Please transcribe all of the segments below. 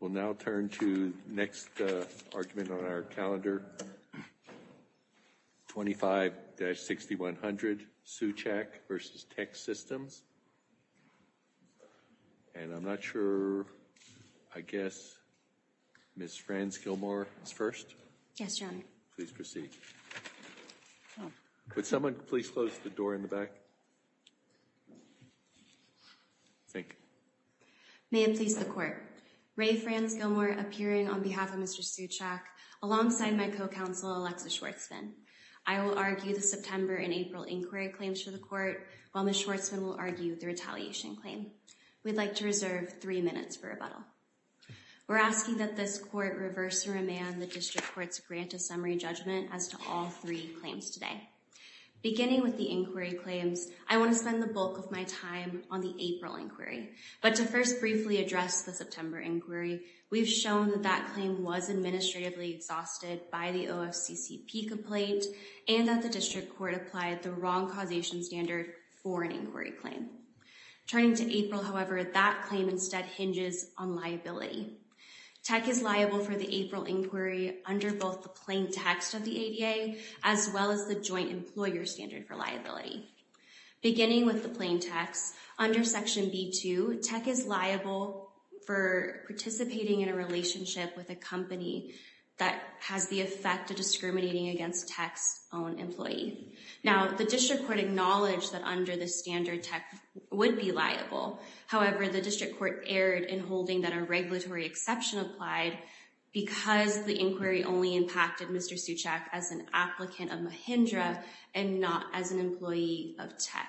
We'll now turn to the next argument on our calendar, 25-6100, Suchak v. Teksystems. And I'm not sure, I guess, Ms. Franz-Gilmour is first? Yes, Your Honor. Please proceed. Would someone please close the door in the back? Thank you. May it please the Court, Ray Franz-Gilmour appearing on behalf of Mr. Suchak alongside my co-counsel, Alexis Schwartzman. I will argue the September and April inquiry claims to the Court, while Ms. Schwartzman will argue the retaliation claim. We'd like to reserve three minutes for rebuttal. We're asking that this Court reverse and remand the district court's grant of summary judgment as to all three claims today. Beginning with the inquiry claims, I want to spend the bulk of my time on the April inquiry. But to first briefly address the September inquiry, we've shown that that claim was administratively exhausted by the OFCCP complaint, and that the district court applied the wrong causation standard for an inquiry claim. Turning to April, however, that claim instead hinges on liability. Tek is liable for the April inquiry under both the plain text of the ADA, as well as the joint employer standard for liability. Beginning with the plain text, under section B2, Tek is liable for participating in a relationship with a company that has the effect of discriminating against Tek's own employee. Now, the district court acknowledged that under the standard Tek would be liable. However, the district court erred in holding that a regulatory exception applied because the inquiry only impacted Mr. Suchak as an applicant of Mahindra and not as an employee of Tek.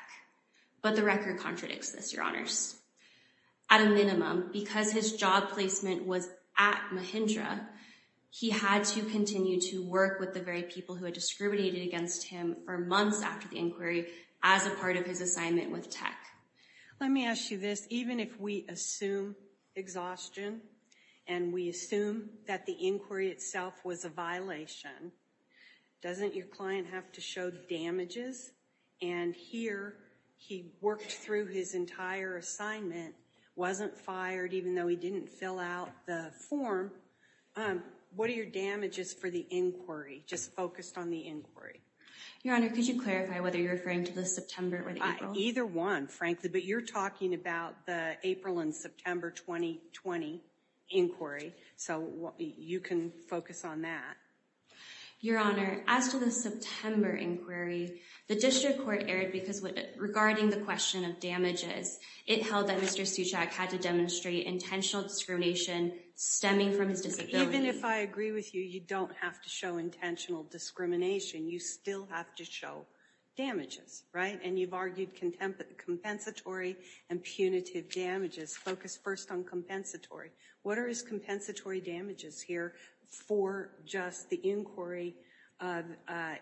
But the record contradicts this, your honors. At a minimum, because his job placement was at Mahindra, he had to continue to work with the very people who had discriminated against him for months after the inquiry as a part of his assignment with Tek. Let me ask you this. Even if we assume exhaustion, and we assume that the inquiry itself was a violation, doesn't your client have to show damages? And here, he worked through his entire assignment, wasn't fired, even though he didn't fill out the form. What are your damages for the inquiry, just focused on the inquiry? Your honor, could you clarify whether you're referring to the September or the April? Either one, frankly. But you're talking about the April and September 2020 inquiry, so you can focus on that. Your honor, as to the September inquiry, the district court erred because regarding the question of damages, it held that Mr. Suchak had to demonstrate intentional discrimination stemming from his disability. Even if I agree with you, you don't have to show intentional discrimination. You still have to show damages, right? And you've argued compensatory and punitive damages. Focus first on compensatory. What are his compensatory damages here for just the inquiry of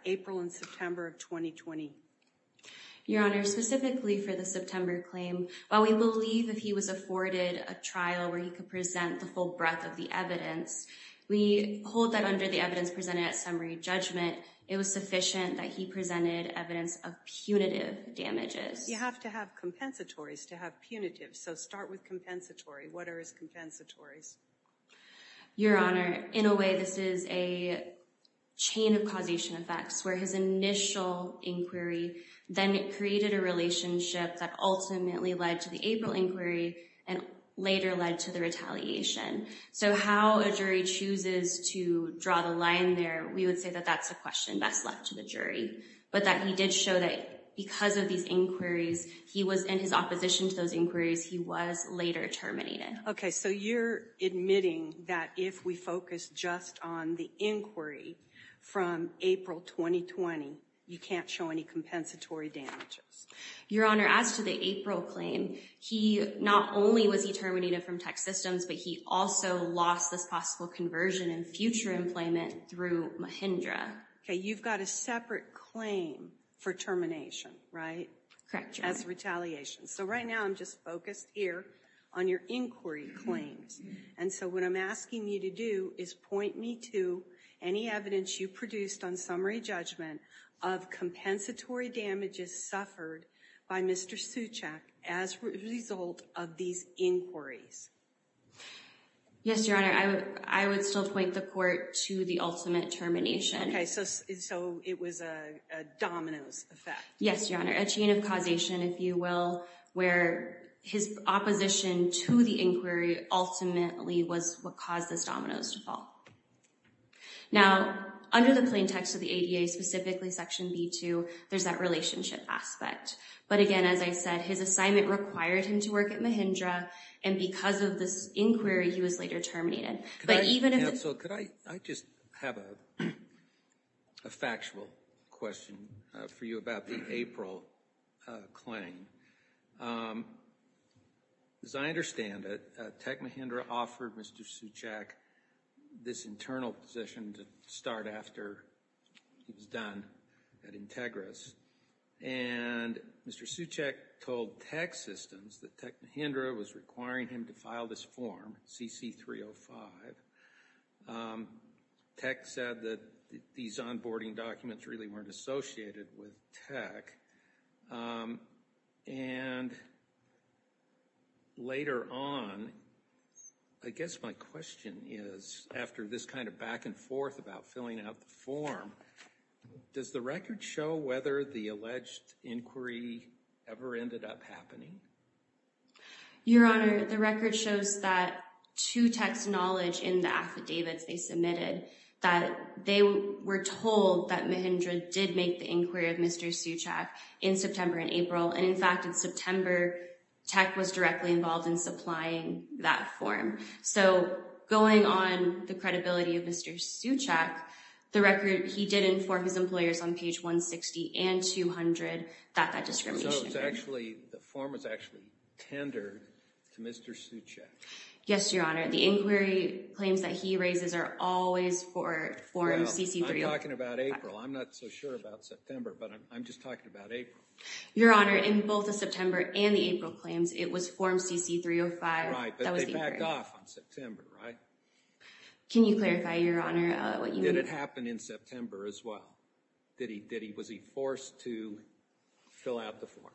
April and September of 2020? Your honor, specifically for the September claim, while we believe that he was afforded a trial where he could present the full breadth of the evidence, we hold that under the evidence presented at summary judgment, it was sufficient that he presented evidence of punitive damages. You have to have compensatories to have punitive, so start with compensatory. What are his compensatories? Your honor, in a way, this is a chain of causation effects where his initial inquiry then created a relationship that ultimately led to the April inquiry and later led to the retaliation. So how a jury chooses to draw the line there, we would say that that's a question best left to the jury, but that he did show that because of these inquiries, he was in his opposition to those inquiries, he was later terminated. Okay, so you're admitting that if we focus just on the inquiry from April 2020, you can't show any compensatory damages. Your honor, as to the April claim, he not only was he terminated from Tech Systems, but he also lost this possible conversion in future employment through Mahindra. Okay, you've got a separate claim for termination, right? Correct, your honor. As retaliation. So right now I'm just focused here on your inquiry claims. And so what I'm asking you to do is point me to any evidence you produced on summary judgment of compensatory damages suffered by Mr. Suchak as a result of these inquiries. Yes, your honor, I would still point the court to the ultimate termination. Okay, so it was a domino's effect. Yes, your honor, a chain of causation, if you will, where his opposition to the inquiry ultimately was what caused this domino's to fall. Now, under the plain text of the ADA, specifically section B2, there's that relationship aspect. But again, as I said, his assignment required him to work at Mahindra, and because of this inquiry, he was later terminated. But even if- Counsel, could I just have a factual question for you about the April claim? As I understand it, Tech Mahindra offered Mr. Suchak this internal position to start after he was done at Integris, and Mr. Suchak told Tech Systems that Tech Mahindra was requiring him to file this form, CC305, Tech said that these onboarding documents really weren't associated with Tech. And later on, I guess my question is, after this kind of back and forth about filling out the form, does the record show whether the alleged inquiry ever ended up happening? Your honor, the record shows that to Tech's knowledge in the affidavits they submitted, that they were told that Mahindra did make the inquiry of Mr. Suchak in September and April, and in fact, in September, Tech was directly involved in supplying that form. So going on the credibility of Mr. Suchak, the record, he did inform his employers on page 160 and 200 that that discrimination- So it's actually, the form was actually tendered to Mr. Suchak. Yes, your honor, the inquiry claims that he raises are always for form CC305. Well, I'm talking about April. I'm not so sure about September, but I'm just talking about April. Your honor, in both the September and the April claims, it was form CC305 that was the inquiry. Right, but they backed off on September, right? Can you clarify, your honor, what you mean? Did it happen in September as well? Did he, was he forced to fill out the form?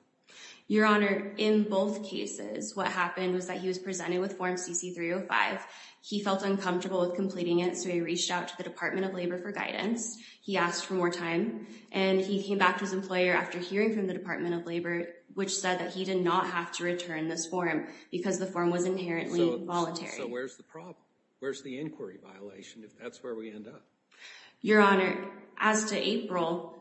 Your honor, in both cases, what happened was that he was presented with form CC305. He felt uncomfortable with completing it, so he reached out to the Department of Labor for guidance. He asked for more time, and he came back to his employer after hearing from the Department of Labor, which said that he did not have to return this form because the form was inherently voluntary. So where's the problem? Where's the inquiry violation if that's where we end up? Your honor, as to April,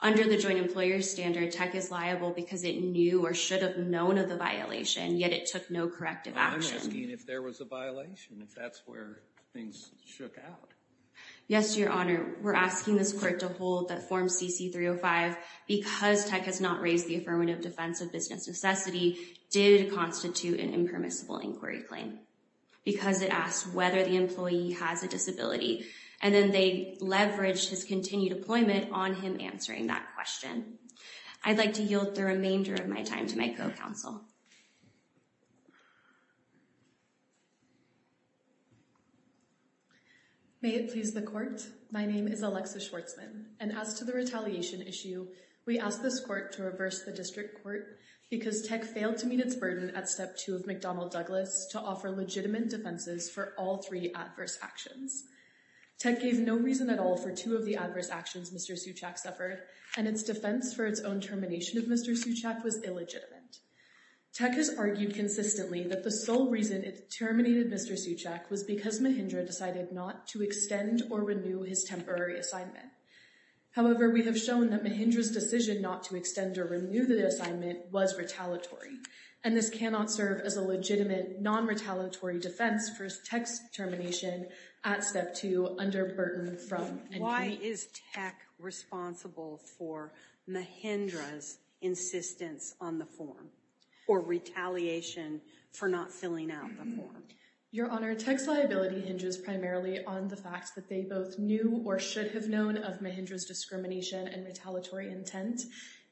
under the joint employer standard, Tech is liable because it knew or should have known of the violation, yet it took no corrective action. I'm asking if there was a violation, if that's where things shook out. Yes, your honor, we're asking this court to hold that form CC305, because Tech has not raised the affirmative defense of business necessity, did constitute an impermissible inquiry claim because it asked whether the employee has a disability, and then they leveraged his continued employment on him answering that question. I'd like to yield the remainder of my time to my co-counsel. Thank you. May it please the court. My name is Alexa Schwartzman, and as to the retaliation issue, we asked this court to reverse the district court because Tech failed to meet its burden at step two of McDonnell Douglas to offer legitimate defenses for all three adverse actions. Tech gave no reason at all for two of the adverse actions Mr. Suchak suffered, and its defense for its own termination of Mr. Suchak was illegitimate. Tech has argued consistently that the sole reason it terminated Mr. Suchak was because Mahindra decided not to extend or renew his temporary assignment. However, we have shown that Mahindra's decision not to extend or renew the assignment was retaliatory, and this cannot serve as a legitimate non-retaliatory defense for Tech's termination at step two under Burton from. Why is Tech responsible for Mahindra's insistence on the form, or retaliation for not filling out the form? Your Honor, Tech's liability hinges primarily on the fact that they both knew or should have known of Mahindra's discrimination and retaliatory intent,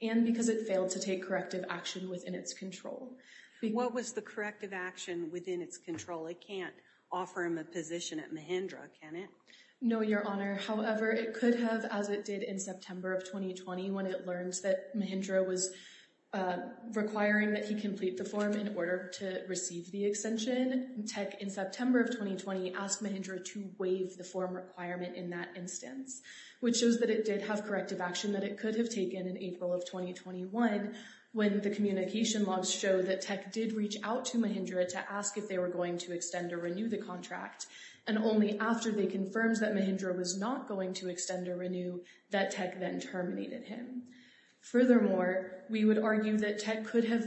and because it failed to take corrective action within its control. What was the corrective action within its control? It can't offer him a position at Mahindra, can it? No, Your Honor. However, it could have, as it did in September of 2020 when it learned that Mahindra was requiring that he complete the form in order to receive the extension. Tech, in September of 2020, asked Mahindra to waive the form requirement in that instance, which shows that it did have corrective action that it could have taken in April of 2021 when the communication logs show that Tech did reach out to Mahindra to ask if they were going to extend or renew the contract, and only after they confirmed that Mahindra was not going to extend or renew that Tech then terminated him. Furthermore, we would argue that Tech could have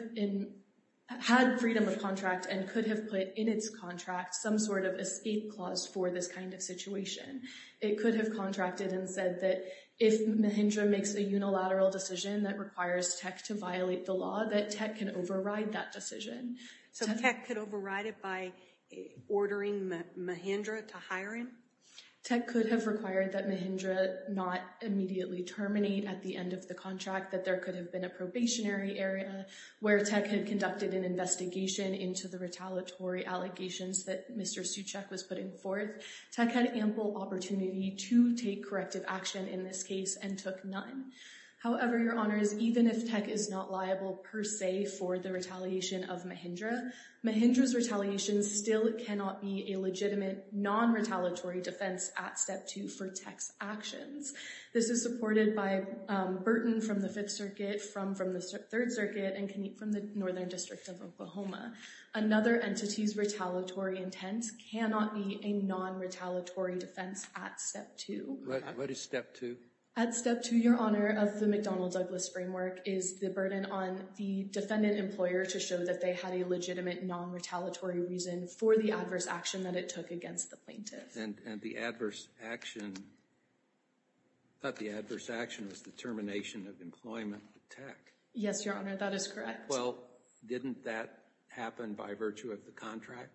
had freedom of contract and could have put in its contract some sort of escape clause for this kind of situation. It could have contracted and said that if Mahindra makes a unilateral decision that requires Tech to violate the law, that Tech can override that decision. So Tech could override it by ordering Mahindra to hire him? Tech could have required that Mahindra not immediately terminate at the end of the contract, that there could have been a probationary area where Tech had conducted an investigation into the retaliatory allegations that Mr. Suchak was putting forth. Tech had ample opportunity to take corrective action in this case and took none. However, Your Honours, even if Tech is not liable per se for the retaliation of Mahindra, Mahindra's retaliation still cannot be a legitimate non-retaliatory defense at Step 2 for Tech's actions. This is supported by Burton from the Fifth Circuit, from the Third Circuit, and Kniep from the Northern District of Oklahoma. Another entity's retaliatory intent cannot be a non-retaliatory defense at Step 2. What is Step 2? At Step 2, Your Honour, of the McDonnell-Douglas framework is the burden on the defendant employer to show that they had a legitimate non-retaliatory reason for the adverse action that it took against the plaintiff. And the adverse action, I thought the adverse action was the termination of employment with Tech. Yes, Your Honour, that is correct. Well, didn't that happen by virtue of the contract?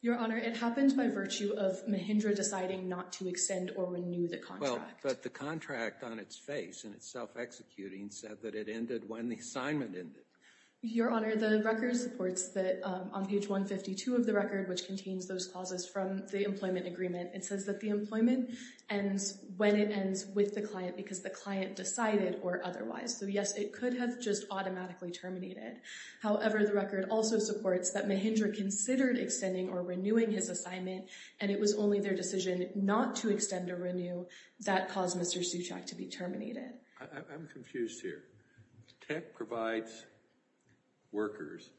Your Honour, it happened by virtue of Mahindra deciding not to extend or renew the contract. But the contract on its face, in its self-executing, said that it ended when the assignment ended. Your Honour, the record supports that on page 152 of the record, which contains those clauses from the employment agreement, it says that the employment ends when it ends with the client because the client decided or otherwise. So yes, it could have just automatically terminated. However, the record also supports that Mahindra considered extending or renewing his assignment, and it was only their decision not to extend or renew that caused Mr. Suchak to be terminated. I'm confused here. Tech provides workers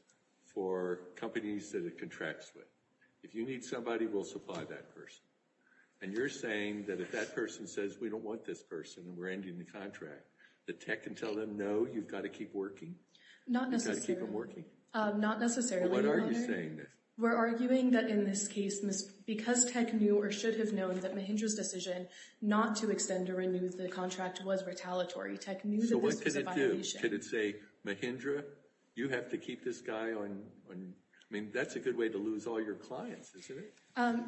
for companies that it contracts with. If you need somebody, we'll supply that person. And you're saying that if that person says, we don't want this person and we're ending the contract, that Tech can tell them, no, you've got to keep working? Not necessarily. Not necessarily, Your Honour. We're arguing that in this case, because Tech knew or should have known that Mahindra's decision not to extend or renew the contract was retaliatory, Tech knew that this was a violation. So what could it do? Could it say, Mahindra, you have to keep this guy on... I mean, that's a good way to lose all your clients, isn't it?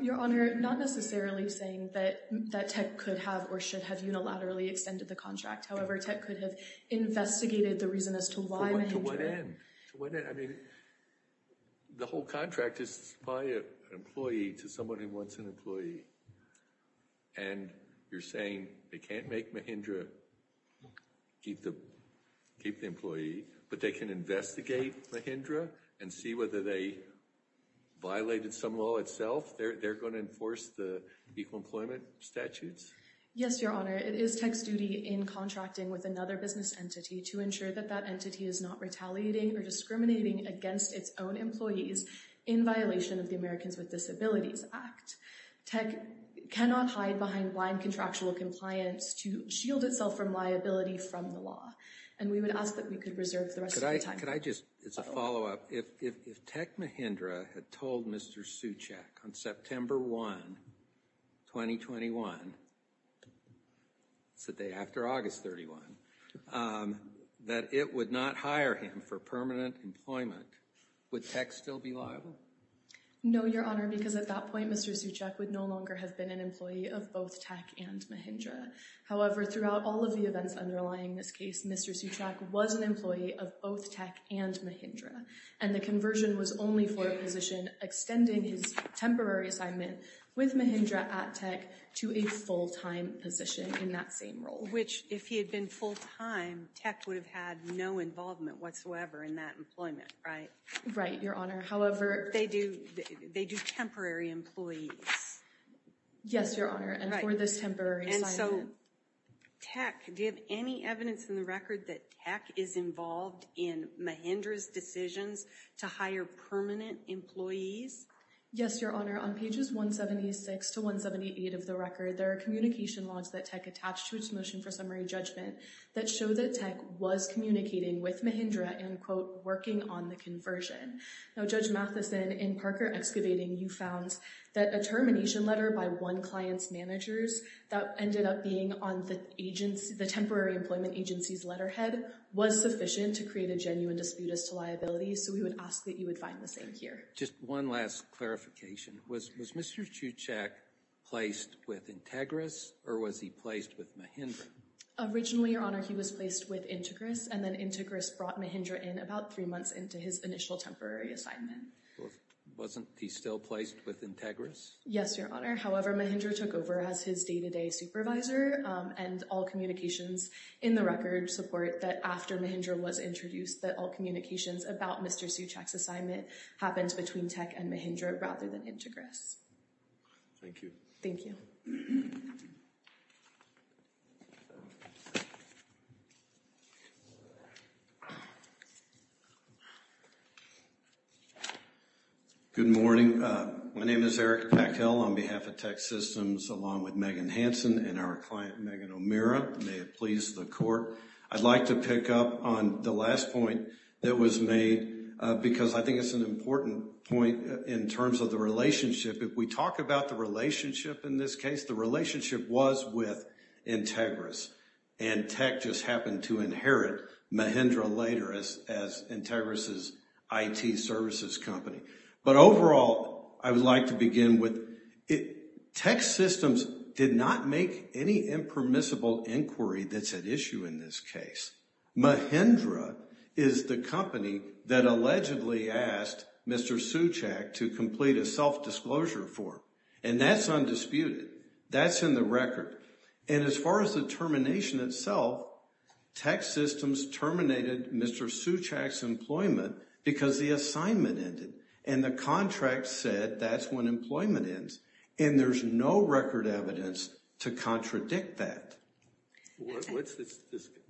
Your Honour, not necessarily saying that Tech could have or should have unilaterally extended the contract. However, Tech could have investigated the reason as to why Mahindra... To what end? I mean, the whole contract is to supply an employee to someone who wants an employee. And you're saying they can't make Mahindra keep the employee, but they can investigate Mahindra and see whether they violated some law itself? They're going to enforce the equal employment statutes? Yes, Your Honour. It is Tech's duty in contracting with another business entity to ensure that that entity is not retaliating or discriminating against its own employees in violation of the Americans with Disabilities Act. Tech cannot hide behind blind contractual compliance to shield itself from liability from the law. And we would ask that we could reserve the rest of the time. Could I just, as a follow up, if Tech Mahindra had told Mr. Suchak on September 1, 2021, it's the day after August 31, that it would not hire him for permanent employment, would Tech still be liable? No, Your Honour, because at that point, Mr. Suchak would no longer have been an employee of both Tech and Mahindra. However, throughout all of the events underlying this case, Mr. Suchak was an employee of both Tech and Mahindra. And the conversion was only for a position extending his temporary assignment with Mahindra at Tech to a full-time position in that same role. Which, if he had been full-time, Tech would have had no involvement whatsoever in that employment, right? Right, Your Honour. However- They do temporary employees. Yes, Your Honour, and for this temporary assignment. And so, Tech, do you have any evidence in the record that Tech is involved in Mahindra's decisions to hire permanent employees? Yes, Your Honour, on pages 176 to 178 of the record, there are communication logs that Tech attached to its motion for summary judgment that show that Tech was communicating with Mahindra and, quote, working on the conversion. Now, Judge Matheson, in Parker Excavating, you found that a termination letter by one client's managers that ended up being on the temporary employment agency's letterhead was sufficient to create a genuine dispute as to liability. So, we would ask that you would find the same here. Just one last clarification. Was Mr. Suchak placed with Integra or was he placed with Mahindra? Originally, Your Honour, he was placed with Integra and then Integra brought Mahindra in about three months into his initial temporary assignment. Wasn't he still placed with Integra? Yes, Your Honour. However, Mahindra took over as his day-to-day supervisor and all communications in the record support that after Mahindra was introduced that all communications about Mr. Suchak's assignment happened between Tech and Mahindra rather than Integra. Thank you. Thank you. Good morning. My name is Eric Packhill on behalf of Tech Systems along with Megan Hansen and our client Megan O'Meara. May it please the Court. I'd like to pick up on the last point that was made because I think it's an important point in terms of the relationship. If we talk about the relationship in this case, the relationship was with Integra's and Tech just happened to inherit Mahindra later as Integra's IT services company. But overall, I would like to begin with Tech Systems did not make any impermissible inquiry that's at issue in this case. Mahindra is the company that allegedly asked Mr. Suchak to complete a self-disclosure form. And that's undisputed. That's in the record. And as far as the termination itself, Tech Systems terminated Mr. Suchak's employment because the assignment ended. And the contract said that's when employment ends. And there's no record evidence to contradict that.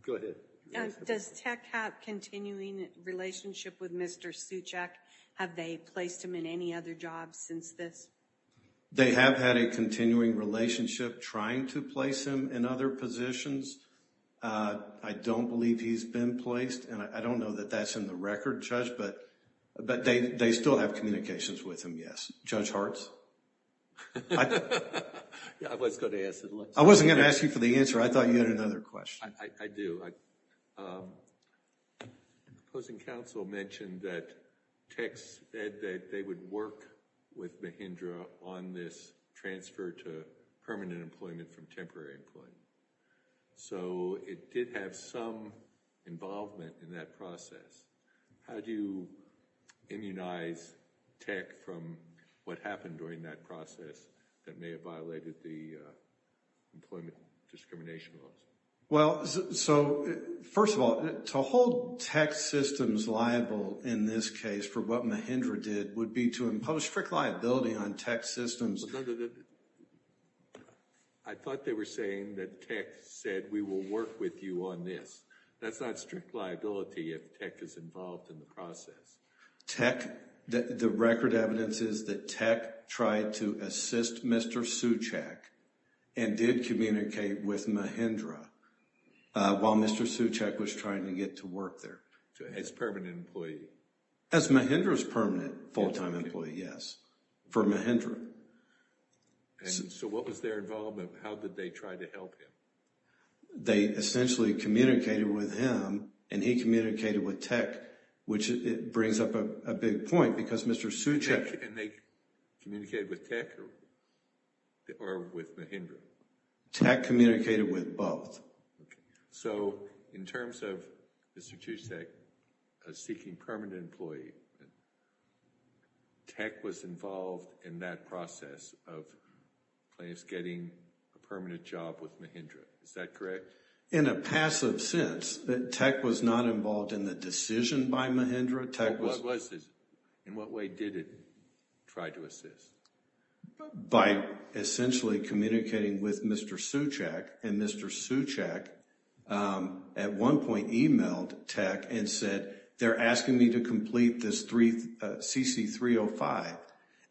Go ahead. Does Tech have continuing relationship with Mr. Suchak? Have they placed him in any other jobs since this? They have had a continuing relationship trying to place him in other positions. I don't believe he's been placed. And I don't know that that's in the record, Judge, but they still have communications with him, yes. Judge Hartz? Yeah, I was going to ask that. I wasn't going to ask you for the answer. I thought you had another question. I do. Opposing counsel mentioned that Tech said that they would work with Mahindra on this transfer to permanent employment from temporary employment. So it did have some involvement in that process. How do you immunize Tech from what happened during that process that may have violated the employment discrimination laws? Well, so first of all, to hold Tech Systems liable in this case for what Mahindra did would be to impose strict liability on Tech Systems. But I thought they were saying that Tech said we will work with you on this. That's not strict liability if Tech is involved in the process. Tech, the record evidence is that Tech tried to assist Mr. Suchak and did communicate with Mahindra while Mr. Suchak was trying to get to work there. As permanent employee. As Mahindra's permanent full-time employee, yes. For Mahindra. So what was their involvement? How did they try to help him? They essentially communicated with him and he communicated with Tech, which brings up a big point because Mr. Suchak. And they communicated with Tech or with Mahindra? Tech communicated with both. So in terms of Mr. Suchak seeking permanent employee, Tech was involved in that process of clients getting a permanent job with Mahindra. Is that correct? In a passive sense, Tech was not involved in the decision by Mahindra. What was it? In what way did it try to assist? By essentially communicating with Mr. Suchak and Mr. Suchak at one point emailed Tech and said, they're asking me to complete this CC305.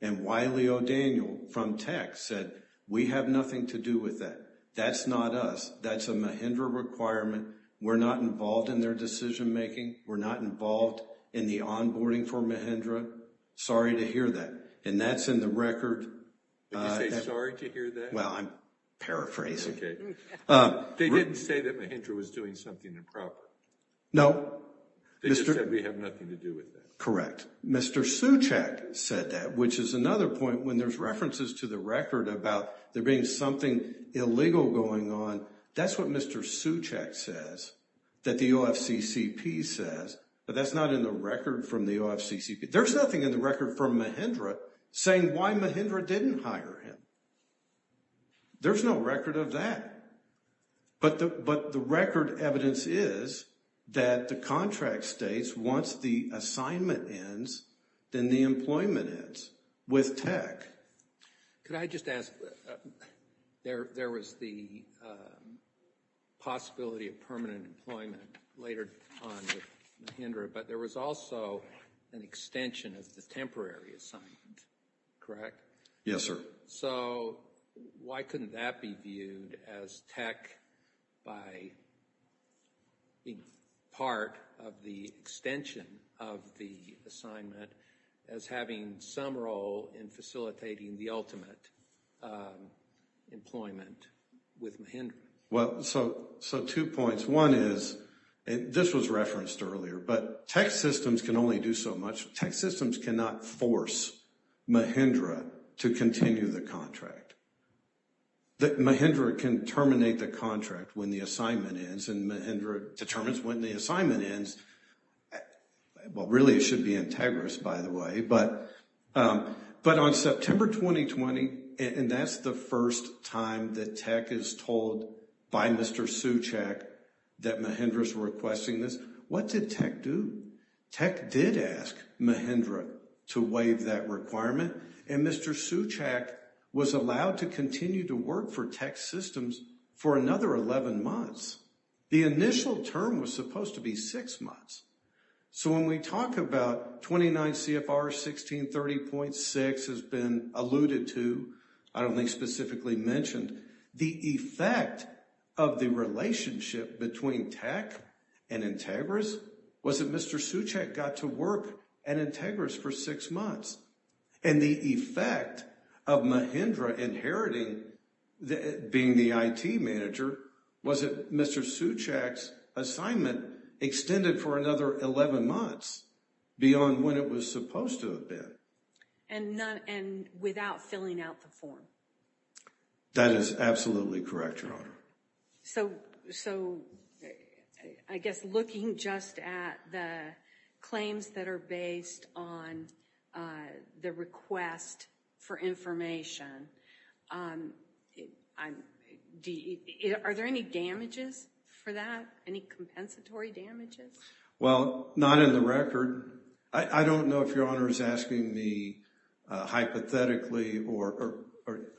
And Wiley O'Daniel from Tech said, we have nothing to do with that. That's not us. That's a Mahindra requirement. We're not involved in their decision making. We're not involved in the onboarding for Mahindra. Sorry to hear that. And that's in the record. Did you say sorry to hear that? Well, I'm paraphrasing. Okay. They didn't say that Mahindra was doing something improper. No. They just said we have nothing to do with that. Correct. Mr. Suchak said that, which is another point when there's references to the record about there being something illegal going on. That's what Mr. Suchak says that the OFCCP says, but that's not in the record from the OFCCP. There's nothing in the record from Mahindra saying why Mahindra didn't hire him. There's no record of that. But the record evidence is that the contract states once the assignment ends, then the employment ends with tech. Could I just ask, there was the possibility of permanent employment later on with Mahindra, but there was also an extension of the temporary assignment, correct? Yes, sir. So why couldn't that be viewed as tech by being part of the extension of the assignment as having some role in facilitating the ultimate employment with Mahindra? Well, so two points. One is, and this was referenced earlier, but tech systems can only do so much. Tech systems cannot force Mahindra to continue the contract. Mahindra can terminate the contract when the assignment ends, and Mahindra determines when the assignment ends. Well, really, it should be integrous, by the way, but on September 2020, and that's the first time that tech is told by Mr. Suchak that Mahindra's requesting this, what did tech do? Tech did ask Mahindra to waive that requirement, and Mr. Suchak was allowed to continue to work for tech systems for another 11 months. The initial term was supposed to be six months. So when we talk about 29 CFR 1630.6 has been alluded to, I don't think specifically mentioned, the effect of the relationship between tech and integrous was that Mr. Suchak got to work at integrous for six months, and the effect of Mahindra inheriting, being the IT manager, was that Mr. Suchak's assignment extended for another 11 months beyond when it was supposed to have been. And without filling out the form. That is absolutely correct, Your Honor. So, I guess looking just at the claims that are based on the request for information, are there any damages for that? Any compensatory damages? Well, not in the record. I don't know if Your Honor is asking me hypothetically, or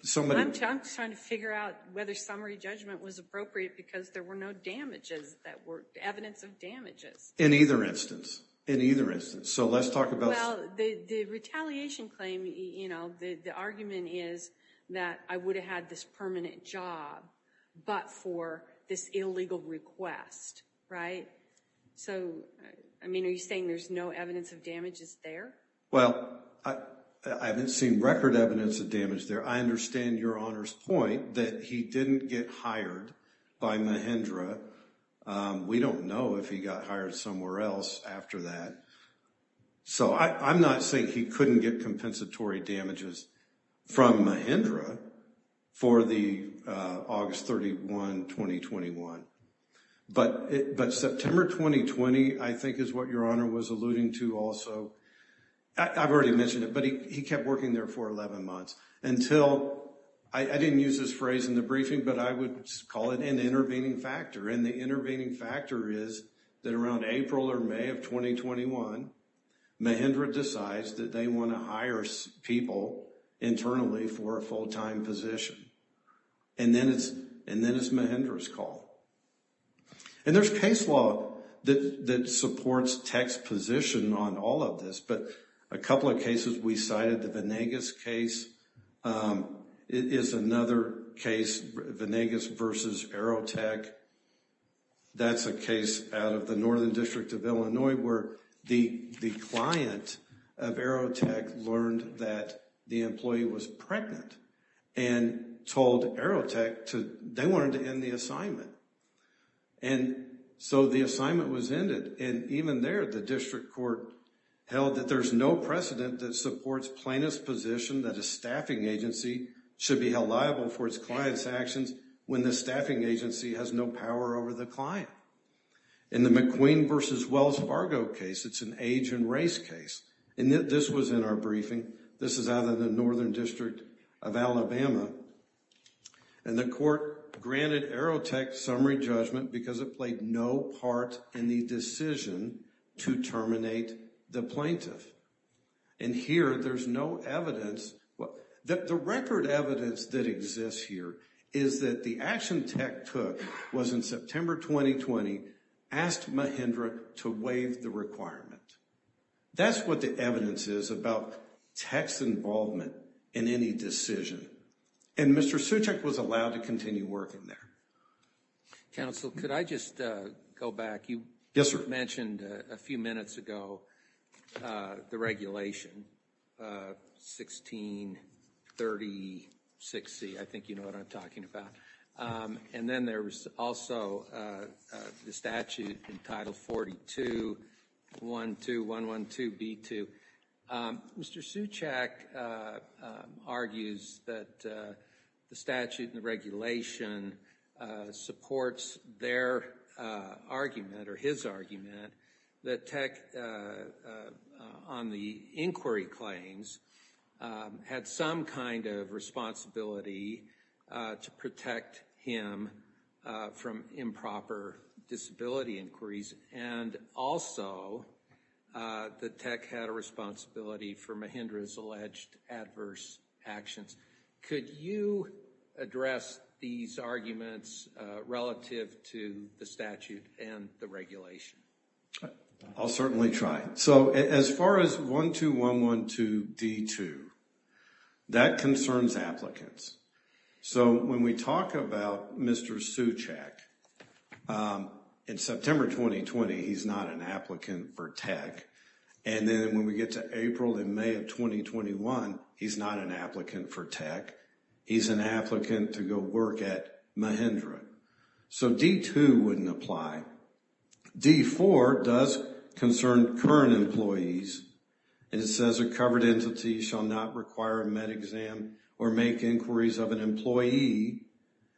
somebody. I'm trying to figure out whether summary judgment was appropriate because there were no damages that were evidence of damages. In either instance. In either instance. So, let's talk about... Well, the retaliation claim, the argument is that I would have had this permanent job, but for this illegal request, right? So, I mean, are you saying there's no evidence of damages there? Well, I haven't seen record evidence of damage there. I understand Your Honor's point that he didn't get hired by Mahindra. We don't know if he got hired somewhere else after that. So, I'm not saying he couldn't get compensatory damages from Mahindra for the August 31, 2021. But September 2020, I think is what Your Honor was alluding to also. I've already mentioned it, but he kept working there for 11 months until... I didn't use this phrase in the briefing, but I would call it an intervening factor. And the intervening factor is that around April or May of 2021, Mahindra decides that they want to hire people internally for a full-time position. And then it's Mahindra's call. And there's case law that supports tech's position on all of this. But a couple of cases we cited, the Venegas case is another case. Venegas versus Aerotech. That's a case out of the Northern District of Illinois where the client of Aerotech learned that the employee was pregnant and told Aerotech they wanted to end the assignment. And so the assignment was ended. And even there, the district court held that there's no precedent that supports plaintiff's position that a staffing agency should be held liable for its client's actions when the staffing agency has no power over the client. In the McQueen versus Wells Fargo case, it's an age and race case. And this was in our briefing. This is out of the Northern District of Alabama. And the court granted Aerotech summary judgment because it played no part in the decision to terminate the plaintiff. And here, there's no evidence. The record evidence that exists here is that the action Tech took was in September 2020, asked Mahindra to waive the requirement. That's what the evidence is about Tech's involvement in any decision. And Mr. Suchak was allowed to continue working there. Council, could I just go back? You mentioned a few minutes ago the regulation, 1630-6C, I think you know what I'm talking about. And then there was also the statute in Title 42-12112-B2. Mr. Suchak argues that the statute and the regulation supports their argument or his argument that Tech, on the inquiry claims, had some kind of responsibility to protect him from improper disability inquiries and also that Tech had a responsibility for Mahindra's alleged adverse actions. Could you address these arguments relative to the statute and the regulation? I'll certainly try. So as far as 12112-D2, that concerns applicants. So when we talk about Mr. Suchak, in September 2020, he's not an applicant for Tech. And then when we get to April and May of 2021, he's not an applicant for Tech. He's an applicant to go work at Mahindra. So D2 wouldn't apply. D4 does concern current employees. And it says a covered entity shall not require a med exam or make inquiries of an employee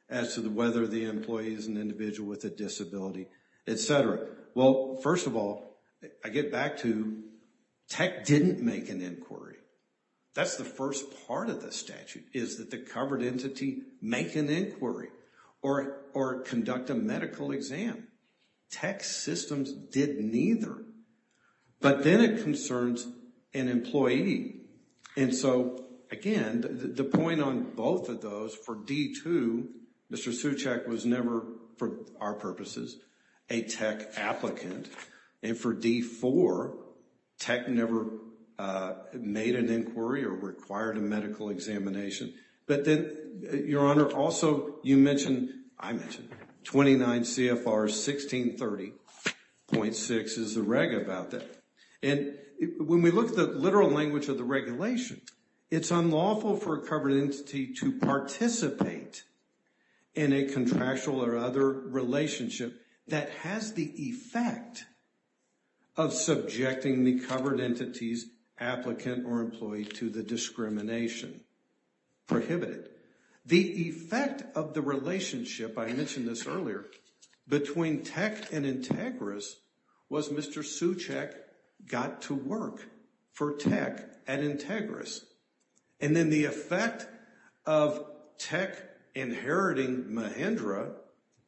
as to whether the employee is an individual with a disability, et cetera. Well, first of all, I get back to, Tech didn't make an inquiry. That's the first part of the statute, is that the covered entity make an inquiry or conduct a medical exam. Tech systems did neither. But then it concerns an employee. And so again, the point on both of those, for D2, Mr. Suchak was never, for our purposes, a Tech applicant. And for D4, Tech never made an inquiry or required a medical examination. But then, Your Honor, also you mentioned, I mentioned 29 CFR 1630.6 is the reg about that. And when we look at the literal language of the regulation, it's unlawful for a covered entity to participate in a contractual or other relationship that has the effect of subjecting the covered entity's applicant or employee to the discrimination. Prohibited. The effect of the relationship, I mentioned this earlier, between Tech and Integris was Mr. Suchak got to work for Tech at Integris. And then the effect of Tech inheriting Mahindra,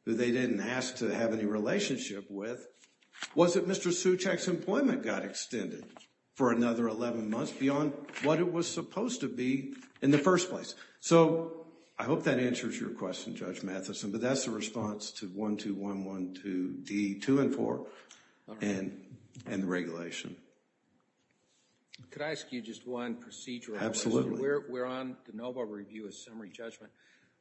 who they didn't ask to have any relationship with, was that Mr. Suchak's employment got extended for another 11 months beyond what it was supposed to be in the first place. So, I hope that answers your question, Judge Matheson, but that's the response to 12112D2 and 4, and the regulation. Could I ask you just one procedural question? We're on the Nobel Review of Summary Judgment.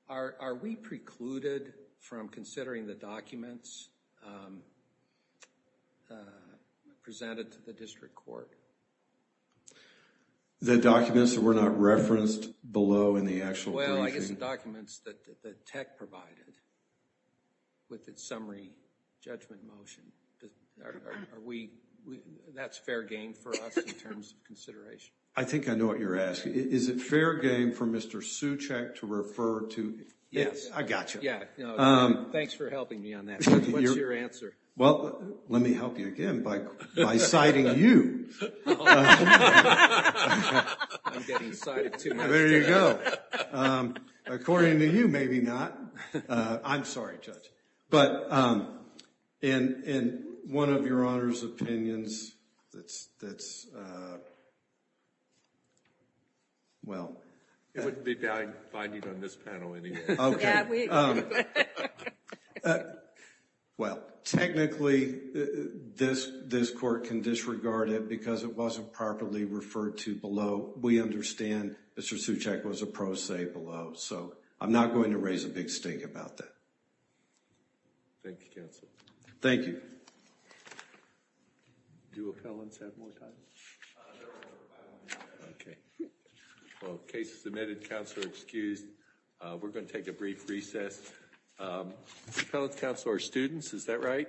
Are we precluded from considering the documents presented to the district court? The documents that were not referenced below in the actual briefing? Well, I guess the documents that Tech provided with its summary judgment motion, that's fair game for us in terms of consideration. I think I know what you're asking. Is it fair game for Mr. Suchak to refer to? Yes. I gotcha. Yeah, thanks for helping me on that. What's your answer? Well, let me help you again by citing you. I'm getting cited too much today. There you go. According to you, maybe not. I'm sorry, Judge. But in one of your Honor's opinions, that's, well. It wouldn't be valid finding on this panel anymore. Okay. We agree. Well, technically, this court can disregard it because it wasn't properly referred to below. We understand Mr. Suchak was a pro se below. So, I'm not going to raise a big stake about that. Thank you, counsel. Thank you. Do appellants have more time? Okay. Well, case is submitted. Counselor excused. We're going to take a brief recess. Appellants, counsel, are students. Is that right?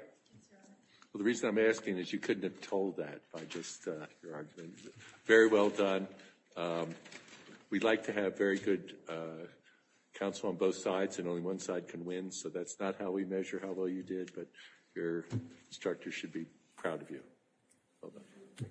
Well, the reason I'm asking is you couldn't have told that by just your argument. Very well done. We'd like to have very good counsel on both sides and only one side can win. So, that's not how we measure how well you did, but your instructor should be proud of you. Well done.